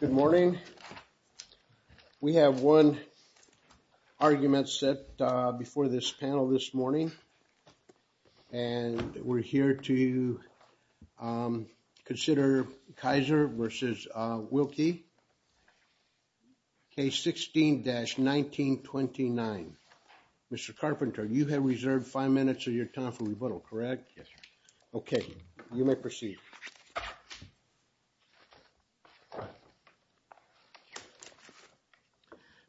Good morning. We have one argument set before this panel this morning and we're here to consider Kisor versus Wilkie. Case 16-1929. Mr. Carpenter, you have reserved five minutes of your time for rebuttal, correct? Yes, sir. Okay, you may proceed.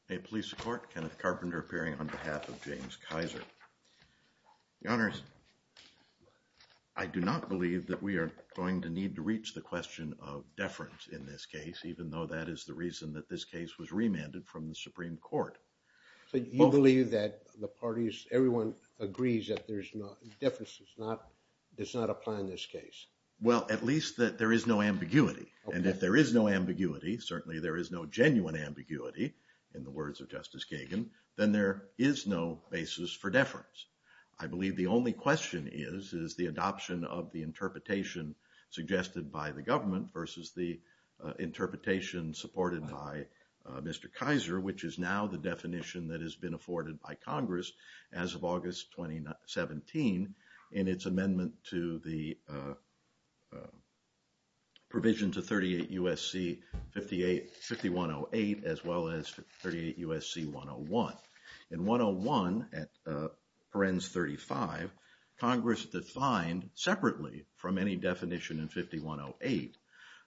May it please the court, Kenneth Carpenter appearing on behalf of James Kisor. Your honors, I do not believe that we are going to need to reach the question of deference in this case, even though that is the reason that this case was remanded from the Supreme Court. So you believe that the parties, everyone agrees that there's no, deference does not apply in this case? Well, at least that there is no ambiguity. And if there is no ambiguity, certainly there is no genuine ambiguity, in the words of Justice Kagan, then there is no basis for deference. I believe the only question is, is the adoption of the interpretation suggested by the government versus the interpretation supported by Mr. Kisor, which is now the definition that has been afforded by Congress as of August 2017, in its amendment to the provision to 38 U.S.C. 5108, as well as 38 U.S.C. 101. In 101, at parens 35, Congress defined separately from any definition in 5108,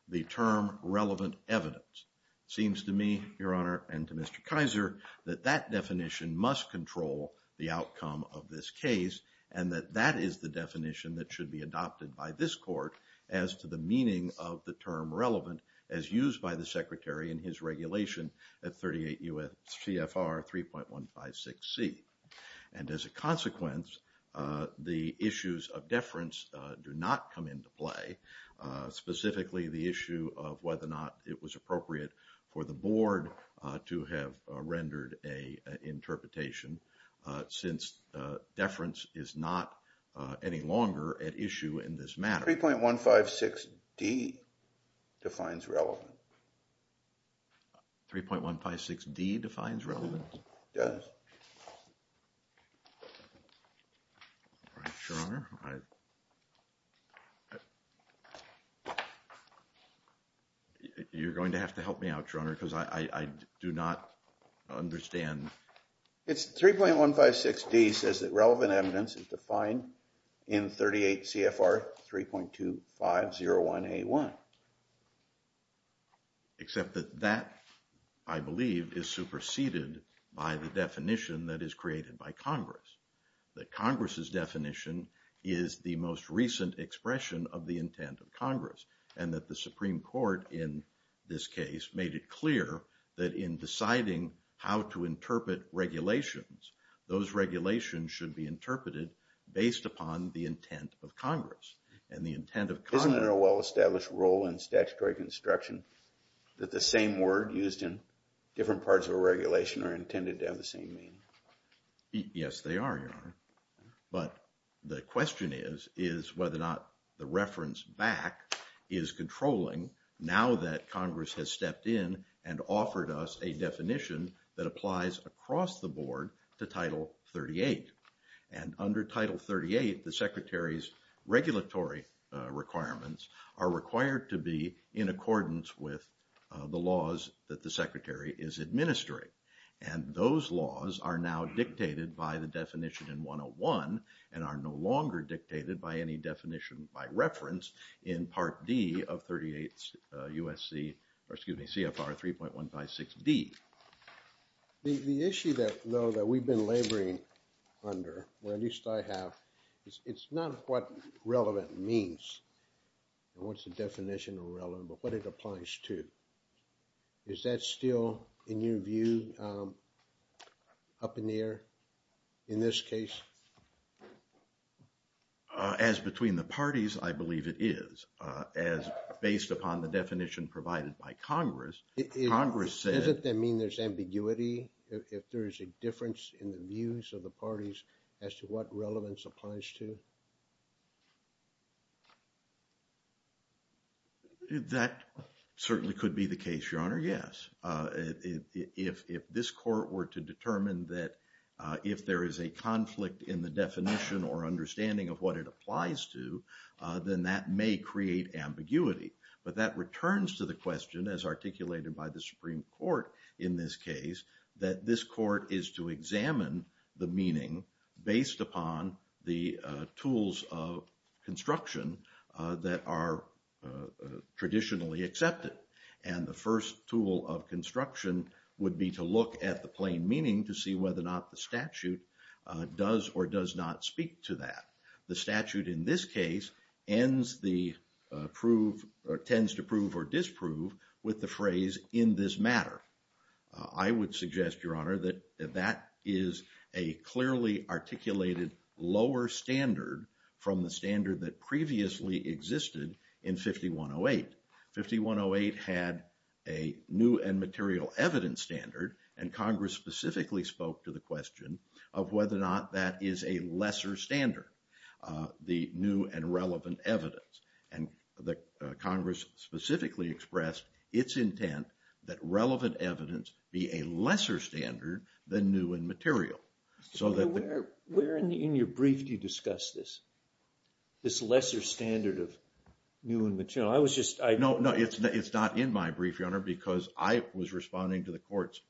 the term relevant evidence. Seems to me, Your Honor, and to Mr. Kisor, that that definition must control the outcome of this case, and that that is the definition that should be adopted by this court as to the meaning of the term relevant as used by the Secretary in his regulation at 38 U.S.C. FR 3.156C. And as a consequence, the issues of deference do not come into play, specifically the issue of whether or appropriate for the board to have rendered a interpretation since deference is not any longer at issue in this matter. 3.156D defines relevant. 3.156D defines relevant? It does. All right, Your Honor. You're going to have to help me out, Your Honor, because I do not understand. It's 3.156D says that relevant evidence is defined in 38 CFR 3.2501A1. All right. Except that that, I believe, is superseded by the definition that is created by Congress, that Congress's definition is the most recent expression of the intent of Congress, and that the Supreme Court, in this case, made it clear that in deciding how to interpret regulations, those regulations should be interpreted based upon the intent of Congress. Isn't there a well-established rule in statutory construction that the same word used in different parts of a regulation are intended to have the same meaning? Yes, they are, Your Honor. But the question is whether or not the reference back is controlling now that Congress has stepped in and offered us a definition that applies across the board to Title 38. And under Title 38, the Secretary's regulatory requirements are required to be in accordance with the laws that the Secretary is administering. And those laws are now dictated by the definition in 101 and are no longer dictated by any definition by reference in Part D of 38 USC, or excuse me, CFR 3.156D. The issue that, though, that we've been laboring under, or at least I have, is it's not what relevant means and what's the definition of relevant, but what it applies to. Is that still, in your view, up in the air in this case? As between the parties, I believe it is. As based upon the definition provided by Congress, Congress said... Doesn't that mean there's ambiguity if there is a difference in the views of the parties as to what relevance applies to? That certainly could be the case, Your Honor, yes. If this court were to determine that if there is a conflict in the definition or understanding of what it applies to, then that may create ambiguity. But that returns to the question, as articulated by the Supreme Court in this case, that this court is to examine the meaning based upon the tools of construction that are traditionally accepted. And the first tool of construction would be to look at the statute does or does not speak to that. The statute in this case tends to prove or disprove with the phrase, in this matter. I would suggest, Your Honor, that that is a clearly articulated lower standard from the standard that previously existed in 5108. 5108 had a new and material evidence standard, and Congress specifically spoke to the question of whether or not that is a lesser standard, the new and relevant evidence. And Congress specifically expressed its intent that relevant evidence be a lesser standard than new and material. Where in your brief do you discuss this? This lesser standard of new and material? No, it's not in my brief, Your Honor, because I was responding to the courts.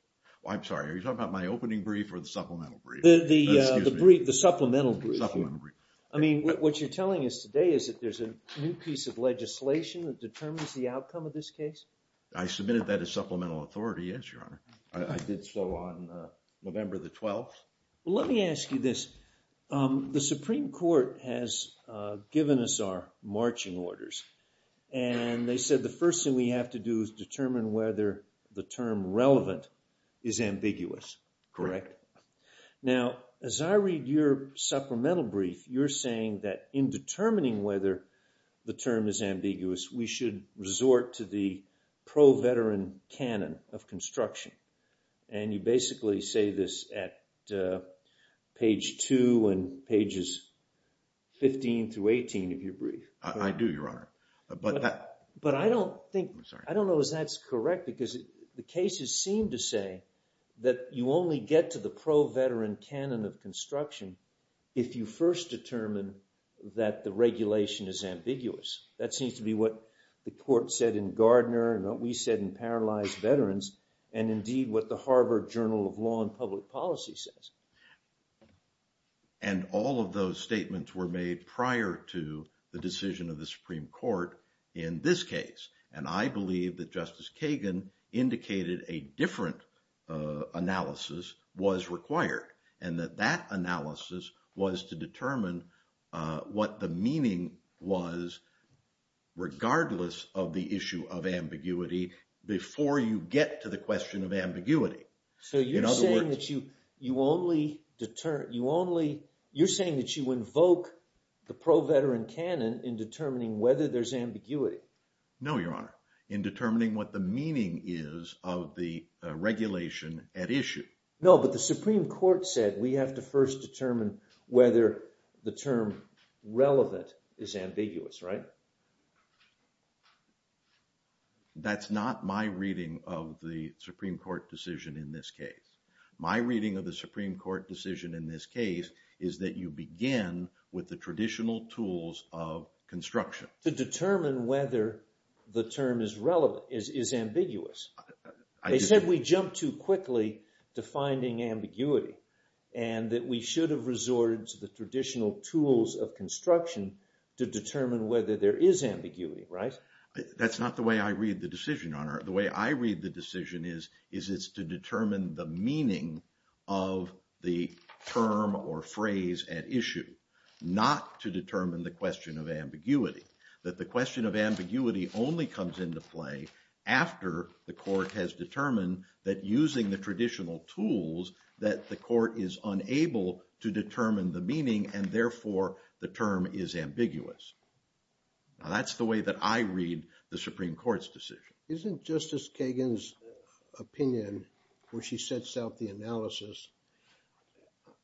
I'm sorry, are you talking about my opening brief or the supplemental brief? The supplemental brief. I mean, what you're telling us today is that there's a new piece of legislation that determines the outcome of this case? I submitted that as supplemental authority, yes, Your Honor. I did so on November the 12th. Let me ask you this. The Supreme Court has given us our marching orders, and they said the first thing we have to do is determine whether the term relevant is ambiguous, correct? Now, as I read your supplemental brief, you're saying that in determining whether the term is ambiguous, we should resort to the pro-veteran canon of construction. And you basically say this at page two and pages 15 through 18 of your brief. I do, Your Honor. But that... But I don't think... I don't know if that's correct because the cases seem to say that you only get to the pro-veteran canon of construction if you first determine that the regulation is ambiguous. That seems to be what the court said in Gardner and what we said in Paralyzed Veterans and indeed what the Harvard Journal of Law and Public Policy says. And all of those statements were made prior to the decision of the Supreme Court in this case. And I believe that Justice Kagan indicated a different analysis was required and that analysis was to determine what the meaning was regardless of the issue of ambiguity before you get to the question of ambiguity. So you're saying that you only... You're saying that you invoke the pro-veteran canon in determining whether there's ambiguity? No, Your Honor. In determining what the meaning is of the regulation at issue. No, but the Supreme Court said we have to first determine whether the term relevant is ambiguous, right? That's not my reading of the Supreme Court decision in this case. My reading of the Supreme Court decision in this case is that you begin with the traditional tools of construction. To determine whether the term is relevant... is ambiguous. They said we jumped too quickly to finding ambiguity and that we should have resorted to the traditional tools of construction to determine whether there is ambiguity, right? That's not the way I read the decision, Your Honor. The way I read the decision is is it's to determine the meaning of the term or phrase at issue. Not to determine the question of ambiguity. That the question of ambiguity only comes into play after the court has determined that using the traditional tools that the court is unable to determine the meaning and therefore the term is ambiguous. Now that's the way that I read the Supreme Court's decision. Isn't Justice Kagan's opinion, where she sets out the analysis,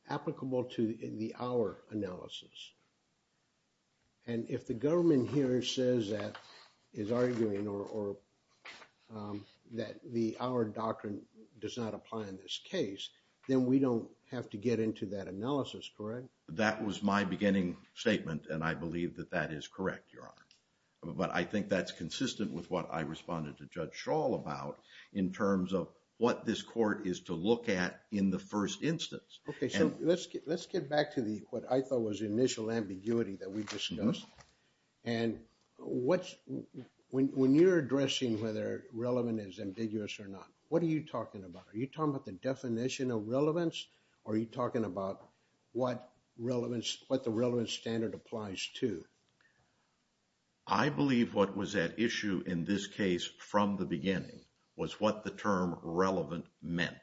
applicable to the hour analysis? And if the government here says that, is arguing or that the hour doctrine does not apply in this case, then we don't have to get into that analysis, correct? That was my beginning statement and I believe that that is correct, Your Honor. But I think that's consistent with what I responded to Judge Schall about in terms of what this court is to look at in the first instance. Okay, so let's get back to what I thought was the initial ambiguity that we discussed. And when you're addressing whether relevant is ambiguous or not, what are you talking about? Are you talking about the definition of relevance? Or are you talking about what relevance, what the relevance standard applies to? I believe what was at issue in this case from the beginning was what the term relevant meant.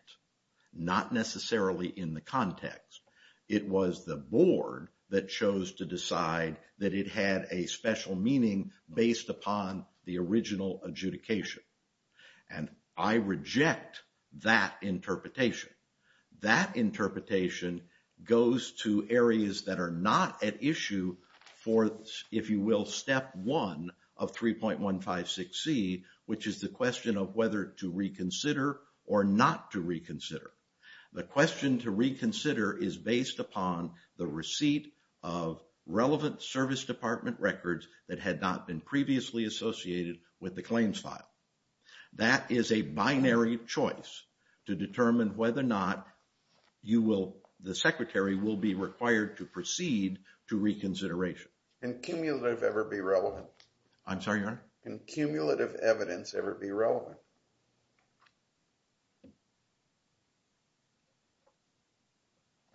Not necessarily in the context. It was the board that chose to decide that it had a special meaning based upon the original adjudication. And I reject that interpretation. That interpretation goes to areas that are not at issue for, if you will, step one of 3.156C, which is the question of whether to reconsider or not to reconsider. The question to reconsider is based upon the receipt of relevant service department records that had not been previously associated with the claims file. That is a binary choice to determine whether or not the secretary will be required to proceed to reconsideration. Can cumulative ever be relevant? I'm sorry, Your Honor? Can cumulative evidence ever be relevant?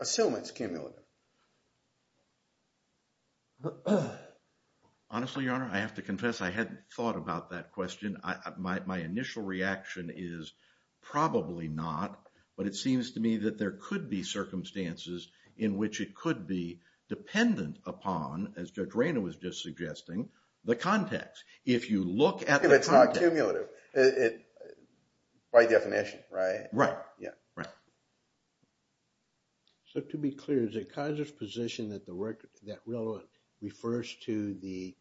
Assumance, cumulative. Honestly, Your Honor, I have to confess I hadn't thought about that question. My initial reaction is probably not, but it seems to me that there could be circumstances in which it could be dependent upon, as Judge Rayner was just suggesting, the context. If you look at the- Cumulative, by definition, right? Right. Yeah, right. So to be clear, is it Kaiser's position that relevant refers to the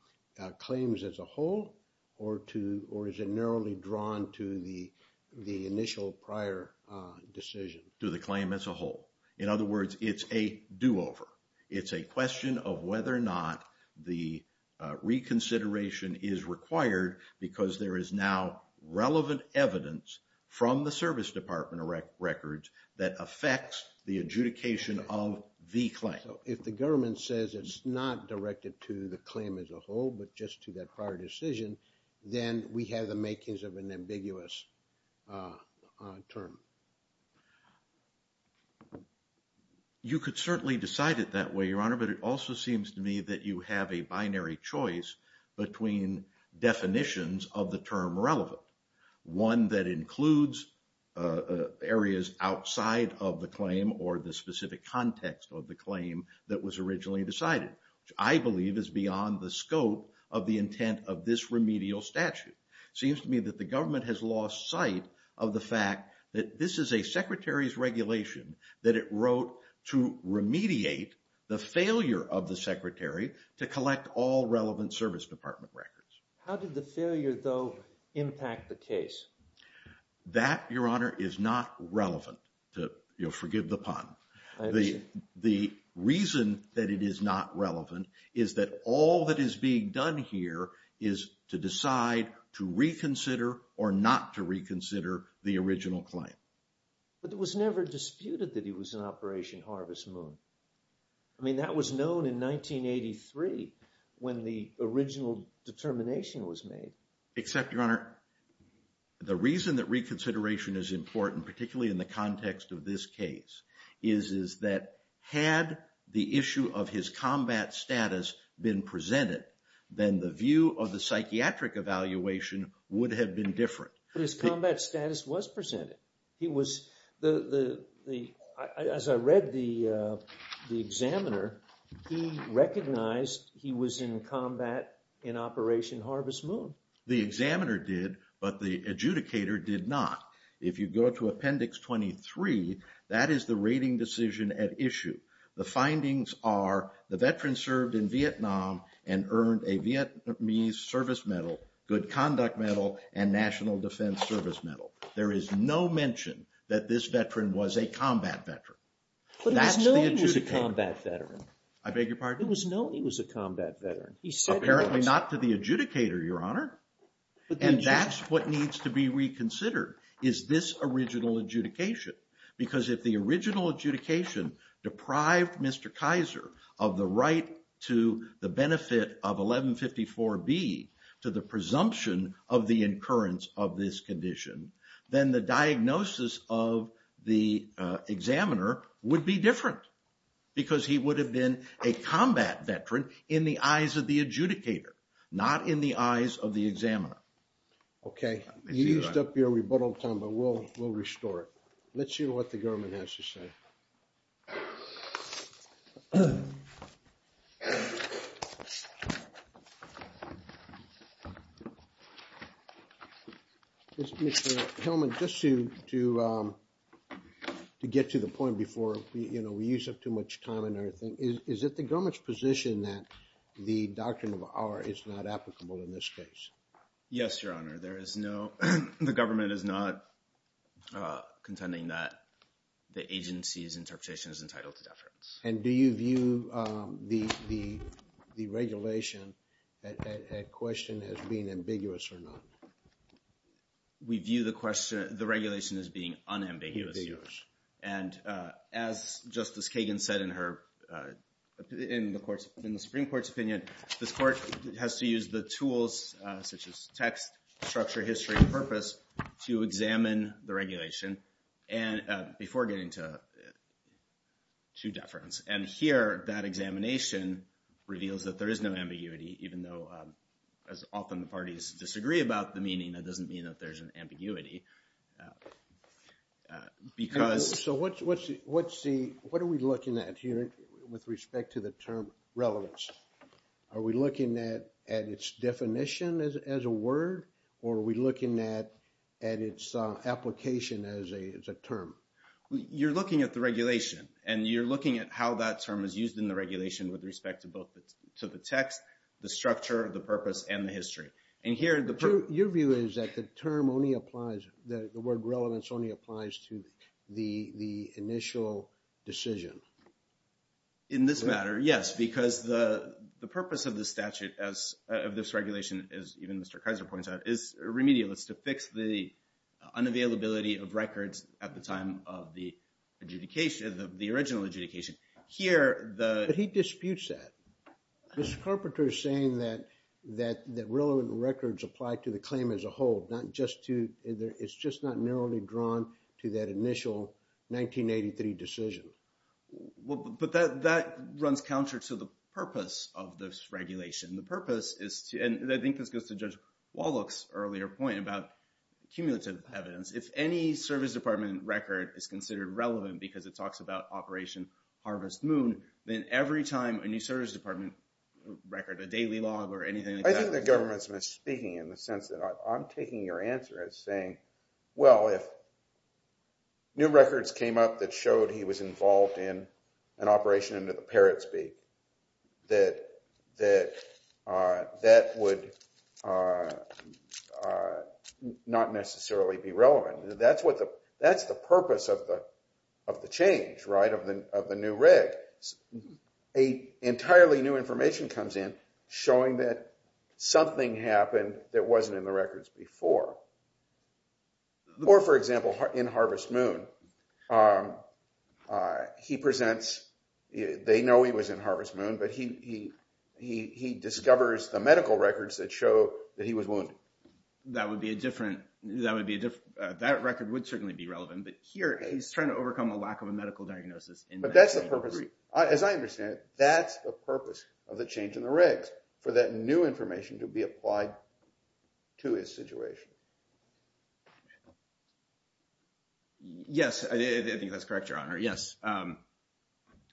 claims as a whole, or is it narrowly drawn to the initial prior decision? To the claim as a whole. In other words, it's a do-over. It's a question of whether or not the reconsideration is required because there is now relevant evidence from the service department records that affects the adjudication of the claim. If the government says it's not directed to the claim as a whole, but just to that prior decision, then we have the makings of an ambiguous term. You could certainly decide it that way, Your Honor, but it also seems to me that you have a binary choice between definitions of the term relevant. One that includes areas outside of the claim or the specific context of the claim that was originally decided, which I believe is beyond the scope of the intent of this remedial statute. Seems to me that the government has lost sight of the fact that this is a secretary's regulation that it wrote to remediate the failure of the secretary to collect all relevant service department records. How did the failure, though, impact the case? That, Your Honor, is not relevant. Forgive the pun. The reason that it is not relevant is that all that is being done here is to decide to reconsider or not to reconsider the original claim. But it was never disputed that he was in Operation Harvest Moon. I mean, that was known in 1983 when the original determination was made. Except, Your Honor, the reason that reconsideration is important, particularly in the context of this case, is that had the issue of his combat status been presented, then the view of the psychiatric evaluation would have been different. But his combat status was presented. As I read the examiner, he recognized he was in combat in Operation Harvest Moon. The examiner did, but the adjudicator did not. If you go to Appendix 23, that is the rating decision at issue. The findings are the veteran served in Vietnam and earned a Vietnamese service medal, good conduct medal, and national defense service medal. There is no mention that this veteran was a combat veteran. But it was known he was a combat veteran. I beg your pardon? It was known he was a combat veteran. He said he was. Apparently not to the adjudicator, Your Honor. And that's what needs to be reconsidered, is this original adjudication. Because if the original adjudication deprived Mr. Kaiser of the right to the benefit of 1154B to the presumption of the incurrence of this condition, then the diagnosis of the examiner would be different. Because he would have been a combat veteran in the eyes of the adjudicator, not in the eyes of the examiner. Okay. You used up your rebuttal time, but we'll restore it. Mr. Hellman, just to get to the point before we use up too much time and everything, is it the government's position that the doctrine of R is not applicable in this case? Yes, Your Honor. There is no, the government is not contending that the agency's interpretation is entitled to deference. And do you view the regulation at question as being ambiguous or not? We view the question, the regulation as being unambiguous, Your Honor. And as Justice Kagan said in her, in the Supreme Court's opinion, this court has to use the tools such as text, structure, history, and purpose to examine the regulation before getting to deference. And here, that examination reveals that there is no ambiguity, even though, as often the parties disagree about the meaning, that doesn't mean that there's an ambiguity. Because... So what's the, what are we looking at here with respect to the term relevance? Are we looking at its definition as a word? Or are we looking at its application as a term? You're looking at the regulation. And you're looking at how that term is used in the regulation with respect to both, to the text, the structure, the purpose, and the history. And here, the... Your view is that the term only applies, the word relevance only applies to the initial decision? In this matter, yes. Because the purpose of the statute as, of this regulation, as even Mr. Kaiser points out, is remedialist, to fix the unavailability of records at the time of the original adjudication. Here, the... But he disputes that. Mr. Carpenter is saying that relevant records apply to the claim as a whole, not just to, it's just not narrowly drawn to that initial 1983 decision. But that runs counter to the purpose of this regulation. The purpose is to, and I think this goes to Judge Wallach's earlier point about cumulative evidence. If any service department record is considered relevant because it talks about Operation Harvest Moon, then every time a new service department record, a daily log or anything... I think the government's misspeaking in the sense that I'm taking your answer as saying, well, if new records came up that showed he was involved in an operation under the Parrotsby, that would not necessarily be relevant. That's the purpose of the change, right, of the new reg. A entirely new information comes in showing that something happened that wasn't in the records before. Or, for example, in Harvest Moon, he presents, they know he was in Harvest Moon, but he discovers the medical records that show that he was wounded. That would be a different, that record would certainly be relevant. But here, he's trying to overcome a lack of a medical diagnosis. But that's the purpose. As I understand it, that's the purpose of the change in the regs, for that new information to be applied to his situation. Yes, I think that's correct, Your Honor. Yes.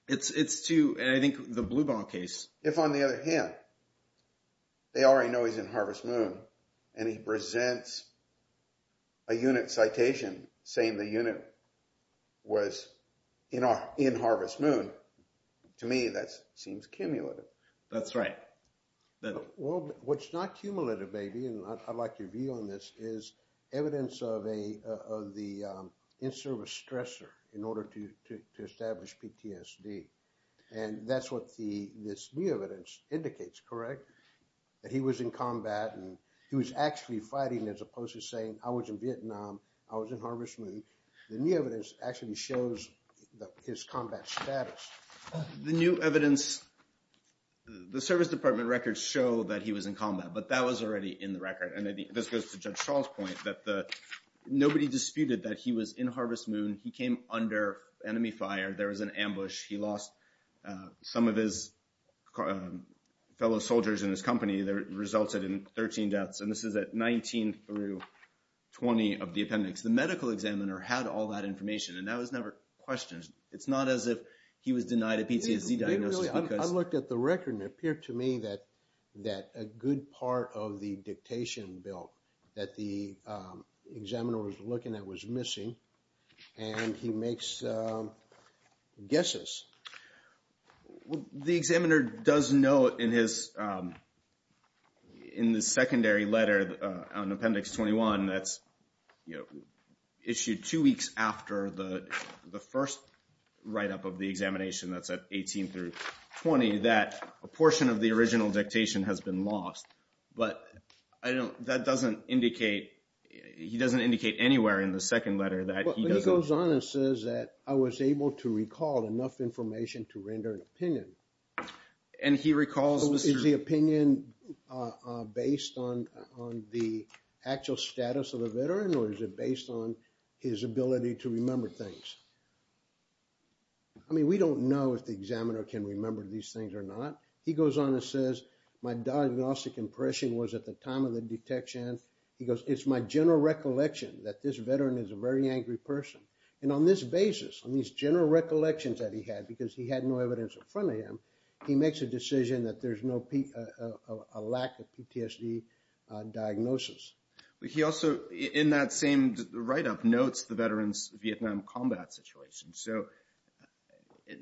It's to, and I think the Bluebon case... If on the other hand, they already know he's in Harvest Moon and he presents a unit citation saying the unit was in Harvest Moon, to me, that seems cumulative. That's right. Well, what's not cumulative, maybe, and I'd like your view on this, is evidence of the in-service stressor in order to establish PTSD. And that's what this new evidence indicates, correct? That he was in combat and he was actually fighting as opposed to saying, I was in Vietnam, I was in Harvest Moon. The new evidence actually shows his combat status. The new evidence, the service department records show that he was in combat, but that was already in the record. And this goes to Judge Schall's point that nobody disputed that he was in Harvest Moon. He came under enemy fire. There was an ambush. He lost some of his fellow soldiers in his company that resulted in 13 deaths. And this is at 19 through 20 of the appendix. The medical examiner had all that information and that was never questioned. It's not as if he was denied a PTSD diagnosis. I looked at the record and it appeared to me that a good part of the dictation bill that the examiner was looking at was missing. And he makes guesses. The examiner does note in the secondary letter on Appendix 21 that's issued two weeks after the first write-up of the examination that's at 18 through 20 that a portion of the original dictation has been lost. But he doesn't indicate anywhere in the second letter that he doesn't- But he goes on and says that, I was able to recall enough information to render an opinion. And he recalls- Is the opinion based on the actual status of a veteran or is it based on his ability to remember things? I mean, we don't know if the examiner can remember these things or not. He goes on and says, my diagnostic impression was at the time of the detection, he goes, it's my general recollection that this veteran is a very angry person. And on this basis, on these general recollections that he had because he had no evidence in front of him, he makes a decision that there's no lack of PTSD diagnosis. But he also, in that same write-up, notes the veteran's Vietnam combat situation. So,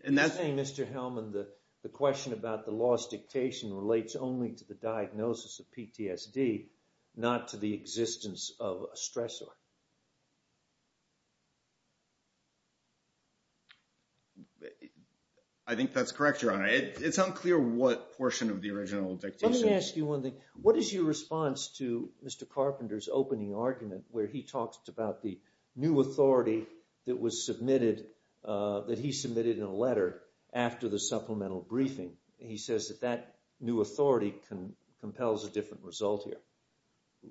and that's- He's saying, Mr. Hellman, the question about the lost dictation relates only to the diagnosis of PTSD, not to the existence of a stressor. I think that's correct, Your Honor. It's unclear what portion of the original dictation- Let me ask you one thing. What is your response to Mr. Carpenter's opening argument where he talks about the new authority that was submitted, that he submitted in a letter after the supplemental briefing? He says that that new authority compels a different result here.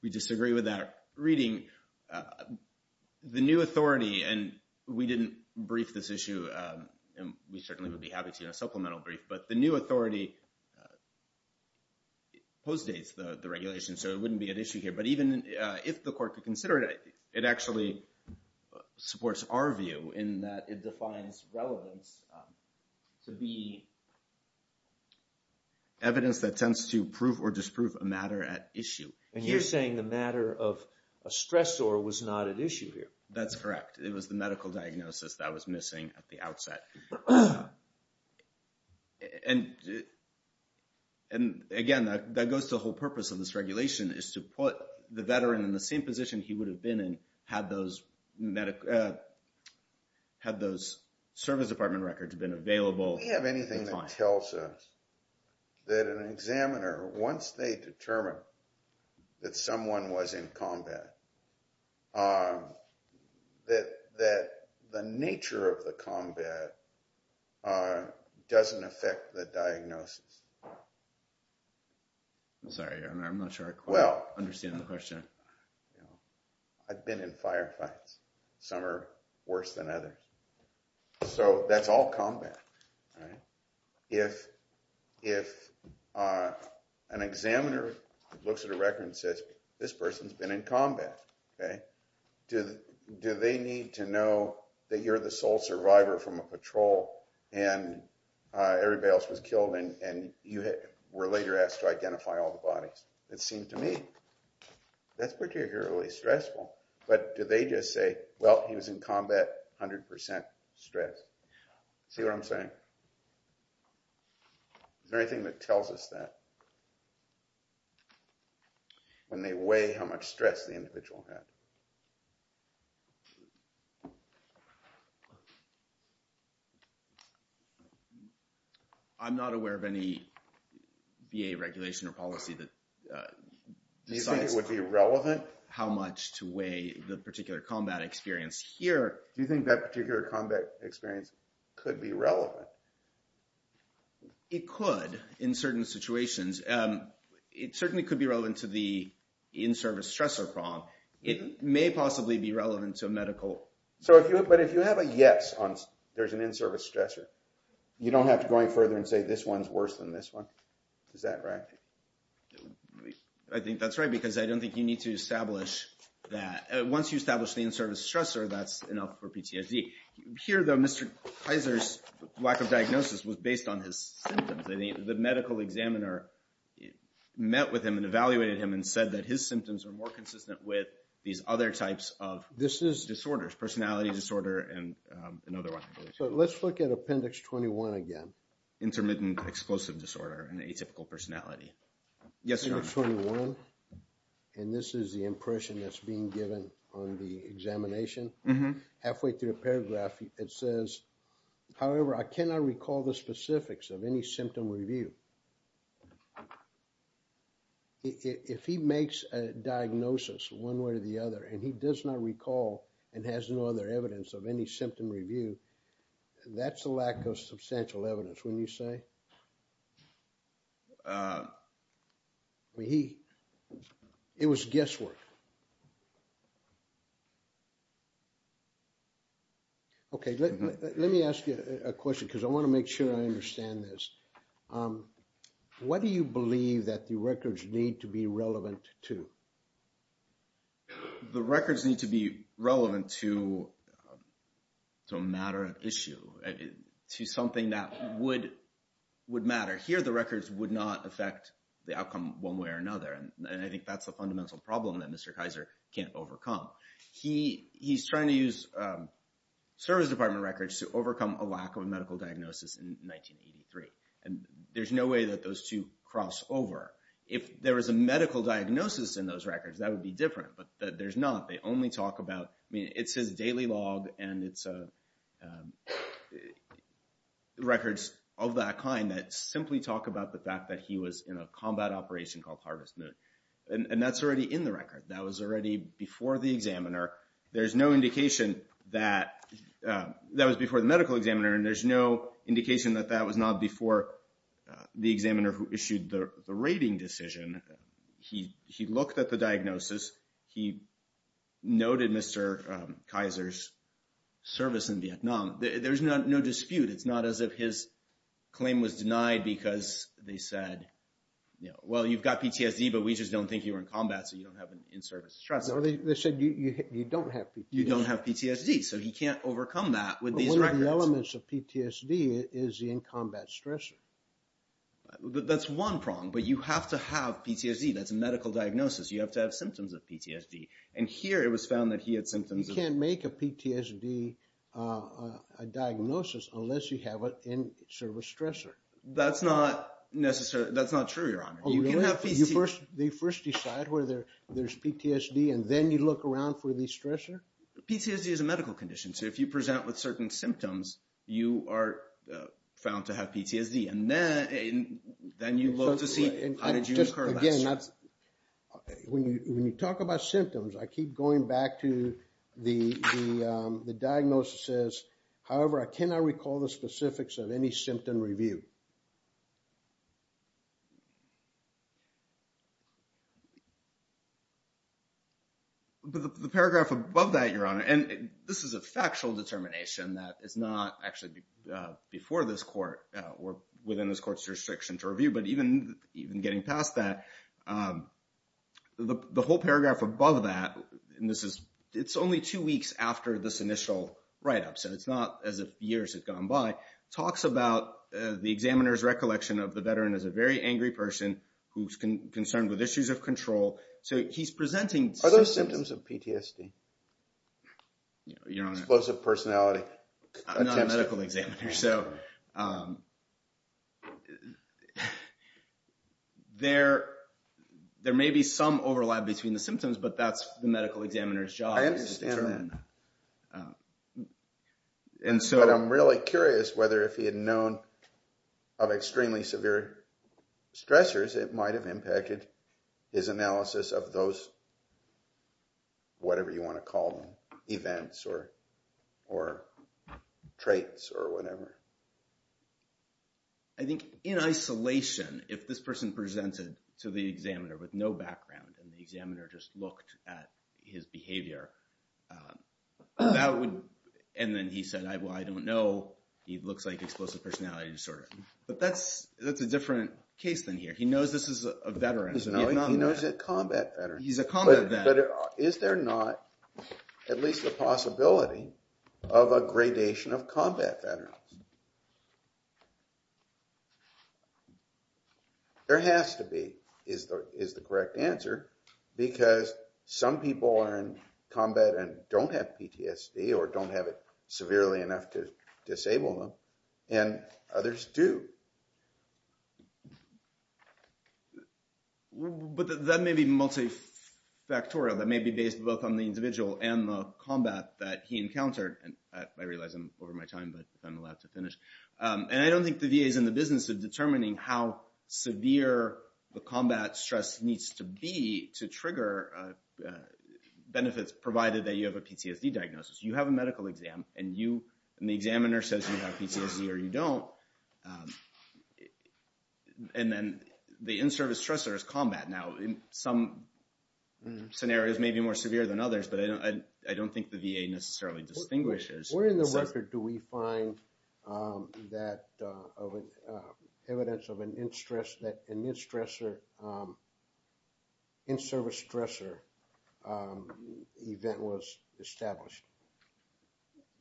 We disagree with that reading. The new authority, and we didn't brief this issue, and we certainly would be happy to in a supplemental brief, but the new authority postdates the regulation, so it wouldn't be at issue here. But even if the court could consider it, it actually supports our view in that it defines relevance to be evidence that tends to prove or disprove a matter at issue. And you're saying the matter of a stressor was not at issue here? That's correct. It was the medical diagnosis that was missing at the outset. And again, that goes to the whole purpose of this regulation is to put the veteran in the same position he would have been in had those service department records been available. We have anything that tells us that an examiner, once they determine that someone was in combat, that the nature of the combat doesn't affect the diagnosis? I'm sorry, I'm not sure I quite understand the question. I've been in firefights. Some are worse than others. So that's all combat. If an examiner looks at a record and says, this person's been in combat, do they need to know that you're the sole survivor from a patrol and everybody else was killed and you were later asked to identify all the bodies? It seems to me that's particularly stressful. But do they just say, well, he was in combat, 100% stress? See what I'm saying? Is there anything that tells us that? When they weigh how much stress the individual had? I'm not aware of any VA regulation or policy that decides how much to weigh the particular combat experience here. Do you think that particular combat experience could be relevant? It could, in certain situations. It certainly could be relevant to the in-service stressor problem. It may possibly be relevant to medical. But if you have a yes on there's an in-service stressor, you don't have to go any further and say this one's worse than this one. Is that right? I think that's right, because I don't think you need to establish that. Once you establish the in-service stressor, that's enough for PTSD. Here, though, Mr. Kaiser's lack of diagnosis was based on his symptoms. The medical examiner met with him and evaluated him and said that his symptoms are more consistent with these other types of disorders, personality disorder and another one. So let's look at Appendix 21 again. Intermittent explosive disorder and atypical personality. Appendix 21. And this is the impression that's being given on the examination. Halfway through the paragraph, it says, however, I cannot recall the specifics of any symptom review. If he makes a diagnosis one way or the other, and he does not recall and has no other evidence of any symptom review, that's a lack of substantial evidence, wouldn't you say? Well, he... It was guesswork. Okay, let me ask you a question, because I want to make sure I understand this. What do you believe that the records need to be relevant to? The records need to be relevant to a matter of issue, to something that would matter. Here, records would not affect the outcome one way or another. And I think that's a fundamental problem that Mr. Kaiser can't overcome. He's trying to use service department records to overcome a lack of a medical diagnosis in 1983. And there's no way that those two cross over. If there was a medical diagnosis in those records, that would be different, but there's not. They only talk about... I mean, it says daily log and it's records of that kind that simply talk about the fact that he was in a combat operation called Harvest Moon. And that's already in the record. That was already before the examiner. There's no indication that... That was before the medical examiner, and there's no indication that that was not before the examiner who issued the rating decision. He looked at the diagnosis. He noted Mr. Kaiser's service in Vietnam. There's no dispute. It's not as if his claim was denied because they said, well, you've got PTSD, but we just don't think you were in combat, so you don't have an in-service stressor. They said you don't have PTSD. You don't have PTSD, so he can't overcome that with these records. One of the elements of PTSD is the in-combat stressor. That's one prong, but you have to have PTSD. That's a medical diagnosis. You have to have symptoms of PTSD. And here it was found that he had symptoms of... You can't make a PTSD diagnosis unless you have an in-service stressor. That's not necessary. That's not true, Your Honor. You can have PTSD... They first decide whether there's PTSD and then you look around for the stressor? PTSD is a medical condition. So if you present with certain symptoms, you are found to have PTSD, and then you look to see how did you incur that stressor? Again, when you talk about symptoms, I keep going back to the diagnosis says, however, I cannot recall the specifics of any symptom review. But the paragraph above that, Your Honor, and this is a factual determination that is not actually before this court or within this court's restriction to review, but even getting past that, the whole paragraph above that, and it's only two weeks after this initial write-up, so it's not as if years have gone by, talks about the examiner's recollection of the veteran as a very angry person who's concerned with issues of control. So he's presenting... Are those symptoms of PTSD? Your Honor... Explosive personality. I'm not a medical examiner. So there may be some overlap between the symptoms, but that's the medical examiner's job. I understand that. But I'm really curious whether if he had known of extremely severe stressors, it might have impacted his analysis of those, whatever you want to call them, events or traits or whatever. I think in isolation, if this person presented to the examiner with no background and the examiner just looked at his behavior, that would... And then he said, well, I don't know. He looks like explosive personality disorder. But that's a different case than here. He knows this is a veteran. He knows it's a combat veteran. He's a combat veteran. But is there not at least the possibility of a gradation of combat veterans? There has to be, is the correct answer, because some people are in combat and don't have PTSD or don't have it severely enough to disable them. And others do. But that may be multifactorial. That may be based both on the individual and the veteran. And I don't think the VA is in the business of determining how severe the combat stress needs to be to trigger benefits provided that you have a PTSD diagnosis. You have a medical exam and the examiner says you have PTSD or you don't. And then the in-service stressor is combat. Now, some scenarios may be more severe than others, but I don't think the VA necessarily distinguishes. Where in the record do we find evidence of an in-service stressor event was established?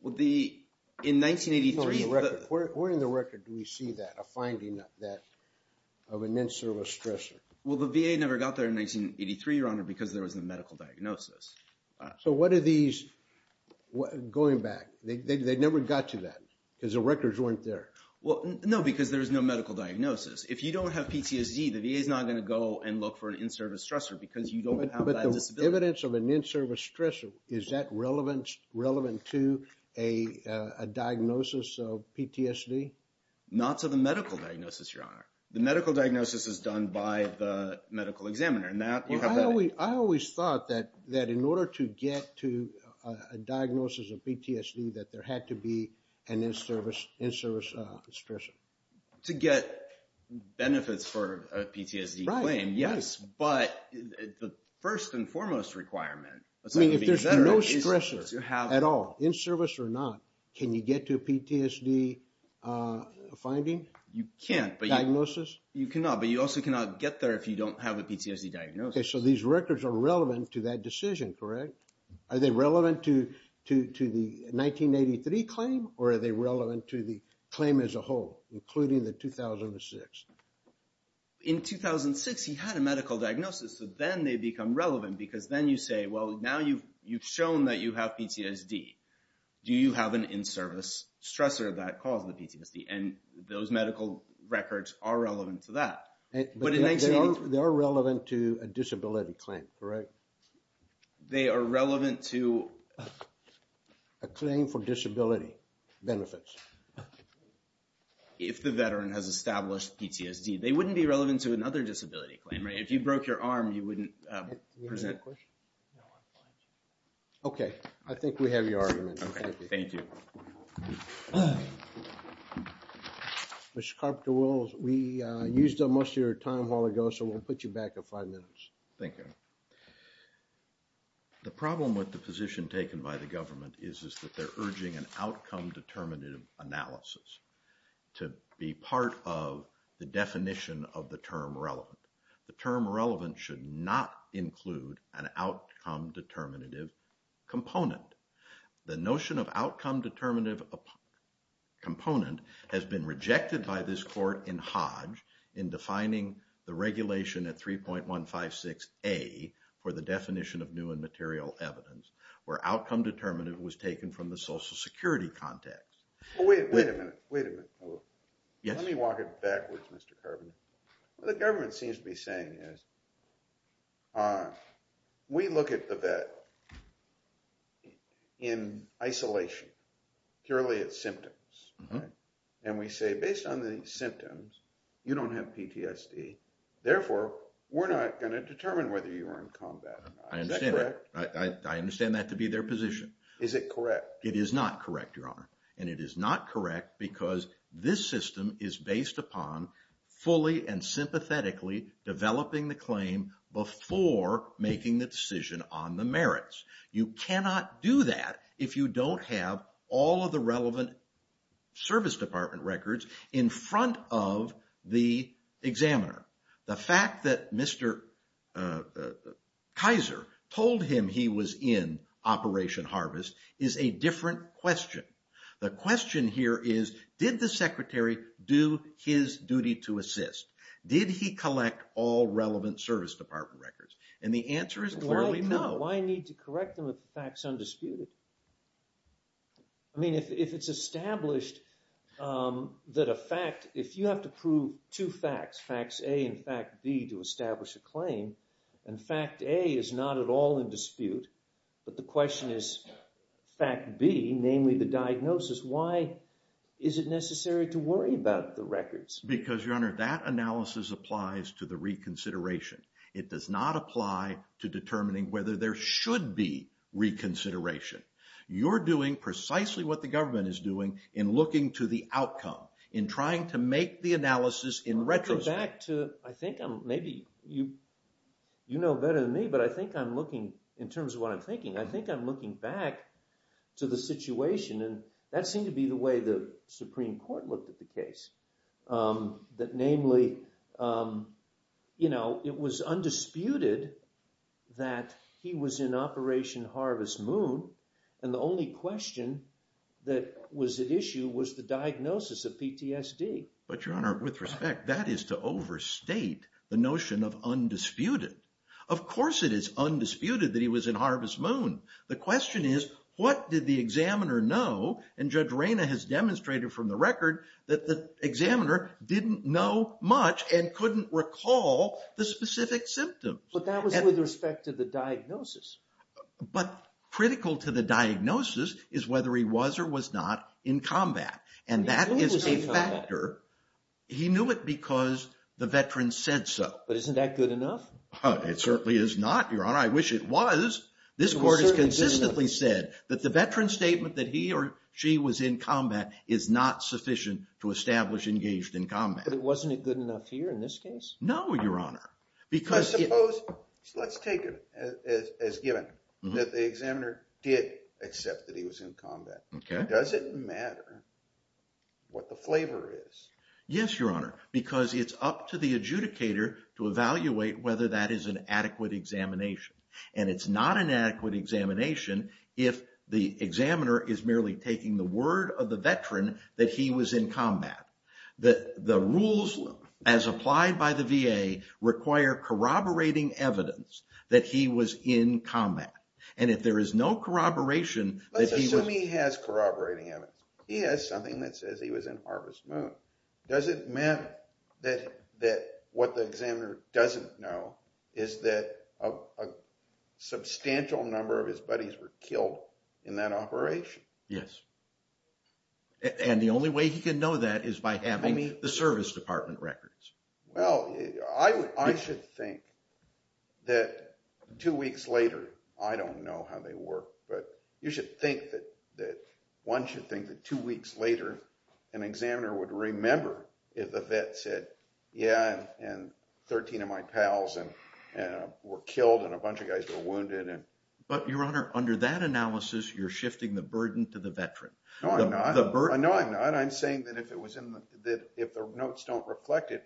Where in the record do we see that, a finding of an in-service stressor? Well, the VA never got there in 1983, Your Honor, because there was no medical diagnosis. So what are these going back? They never got to that because the records weren't there. Well, no, because there was no medical diagnosis. If you don't have PTSD, the VA is not going to go and look for an in-service stressor because you don't have that disability. But the evidence of an in-service stressor, is that relevant to a diagnosis of PTSD? Not to the medical diagnosis, Your Honor. The medical diagnosis is done by the medical examiner. I always thought that in order to get to a diagnosis of PTSD, that there had to be an in-service stressor. To get benefits for a PTSD claim, yes. But the first and foremost requirement, aside from being a veteran, is to have... I mean, if there's no stressor at all, in-service or not, can you get to a PTSD finding? You can't. Diagnosis? You cannot. But you also cannot get there if you don't have a PTSD diagnosis. Okay. So these records are relevant to that decision, correct? Are they relevant to the 1983 claim or are they relevant to the claim as a whole, including the 2006? In 2006, he had a medical diagnosis. So then they become relevant because then you say, well, now you've shown that you have PTSD. Do you have an in-service stressor that caused the PTSD? And those medical records are relevant to that. They are relevant to a disability claim, correct? They are relevant to... A claim for disability benefits. If the veteran has established PTSD, they wouldn't be relevant to another disability claim, right? If you broke your arm, you wouldn't present... Okay. I think we have your argument. Okay. Thank you. Mr. Carpenter, we used up most of your time while ago, so we'll put you back at five minutes. Thank you. The problem with the position taken by the government is that they're urging an outcome-determinative analysis to be part of the definition of the term relevant. The term relevant should not include an outcome-determinative component. The notion of outcome-determinative component has been rejected by this court in Hodge in defining the regulation at 3.156A for the definition of new and material evidence, where outcome-determinative was taken from the social security context. Wait a minute. Wait a minute. Let me walk it backwards, Mr. Carpenter. What the government seems to be saying is, we look at the vet in isolation, purely its symptoms. And we say, based on the symptoms, you don't have PTSD. Therefore, we're not going to determine whether you are in combat or not. Is that correct? I understand that to be their position. Is it correct? It is not correct, Your Honor. And it is not correct because this system is based upon fully and sympathetically developing the claim before making the decision on the merits. You cannot do that if you don't have all of the relevant service department records in front of the examiner. The fact that Mr. Kaiser told him he was in Operation Harvest is a different question. The question here is, did the secretary do his duty to assist? Did he collect all relevant service department records? And the answer is clearly no. Why need to correct them if the fact's undisputed? I mean, if it's established that a fact, if you have to prove two facts, facts A and fact B to establish a claim, and fact A is not at all in dispute, but the question is fact B, namely the diagnosis. Why is it necessary to worry about the records? Because, Your Honor, that analysis applies to the reconsideration. It does not apply to determining whether there should be reconsideration. You're doing precisely what the government is doing in looking to the outcome, in trying to make the analysis in retrospect. Going back to, I think maybe you know better than me, but I think I'm looking, in terms of what I'm thinking, I think I'm looking back to the situation, and that seemed to be the way the Supreme Court looked at the case. That namely, you know, it was undisputed that he was in Operation Harvest Moon, and the only question that was at issue was the diagnosis of PTSD. But, Your Honor, with respect, that is to overstate the notion of undisputed. Of course it is undisputed that he was in Harvest Moon. The question is, what did the examiner know, and Judge Reyna has demonstrated from the record, that the examiner didn't know much and couldn't recall the specific symptoms. But that was with respect to the diagnosis. But critical to the diagnosis is whether he was or was not in combat, and that is a factor. He knew it because the veteran said so. But isn't that good enough? It certainly is not, Your Honor. I wish it was. This Court has consistently said that the veteran's statement that he or she was in combat is not sufficient to establish engaged in combat. But wasn't it good enough here in this case? No, Your Honor. Because... Let's take it as given that the examiner did accept that he was in combat. Does it matter what the flavor is? Yes, Your Honor, because it's up to the adjudicator to evaluate whether that is an adequate examination. And it's not an adequate examination if the examiner is merely taking the word of the veteran that he was in combat. The rules, as applied by the VA, require corroborating evidence that he was in combat. And if there is no corroboration... Let's assume he has corroborating evidence. He has something that says he was in Harvest Moon. Does it matter that what the examiner doesn't know is that a substantial number of his buddies were killed in that operation? Yes. And the only way he can know that is by having the Service Department records. Well, I should think that two weeks later... I don't know how they work, but you should think that... If the vet said, yeah, and 13 of my pals were killed and a bunch of guys were wounded and... But, Your Honor, under that analysis, you're shifting the burden to the veteran. No, I'm not. The burden... No, I'm not. I'm saying that if the notes don't reflect it,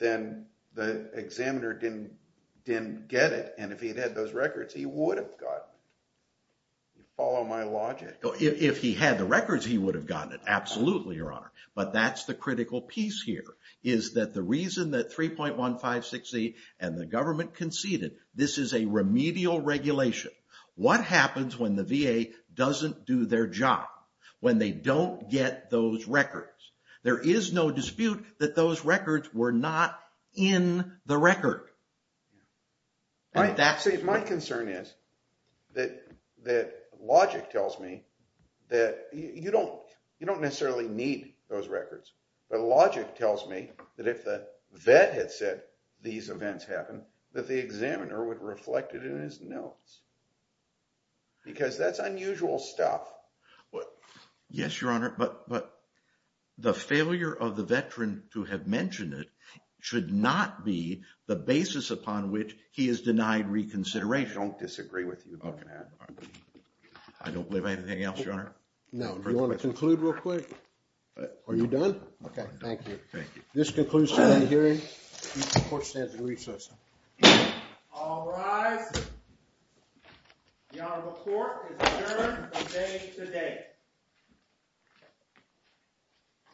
then the examiner didn't get it. And if he'd had those records, he would have gotten it. You follow my logic? If he had the records, he would have gotten it. Absolutely, Your Honor. But that's the critical piece here, is that the reason that 3.1568 and the government conceded, this is a remedial regulation. What happens when the VA doesn't do their job, when they don't get those records? There is no dispute that those records were not in the record. See, my concern is that logic tells me that you don't necessarily need those records. But logic tells me that if the vet had said these events happened, that the examiner would reflect it in his notes, because that's unusual stuff. Yes, Your Honor, but the failure of the veteran to have mentioned it should not be the basis upon which he is denied reconsideration. I don't disagree with you on that. I don't believe anything else, Your Honor. Now, do you want to conclude real quick? Are you done? Okay, thank you. Thank you. This concludes today's hearing. Court stands in recess. All rise. The Honorable Court is adjourned from day to day.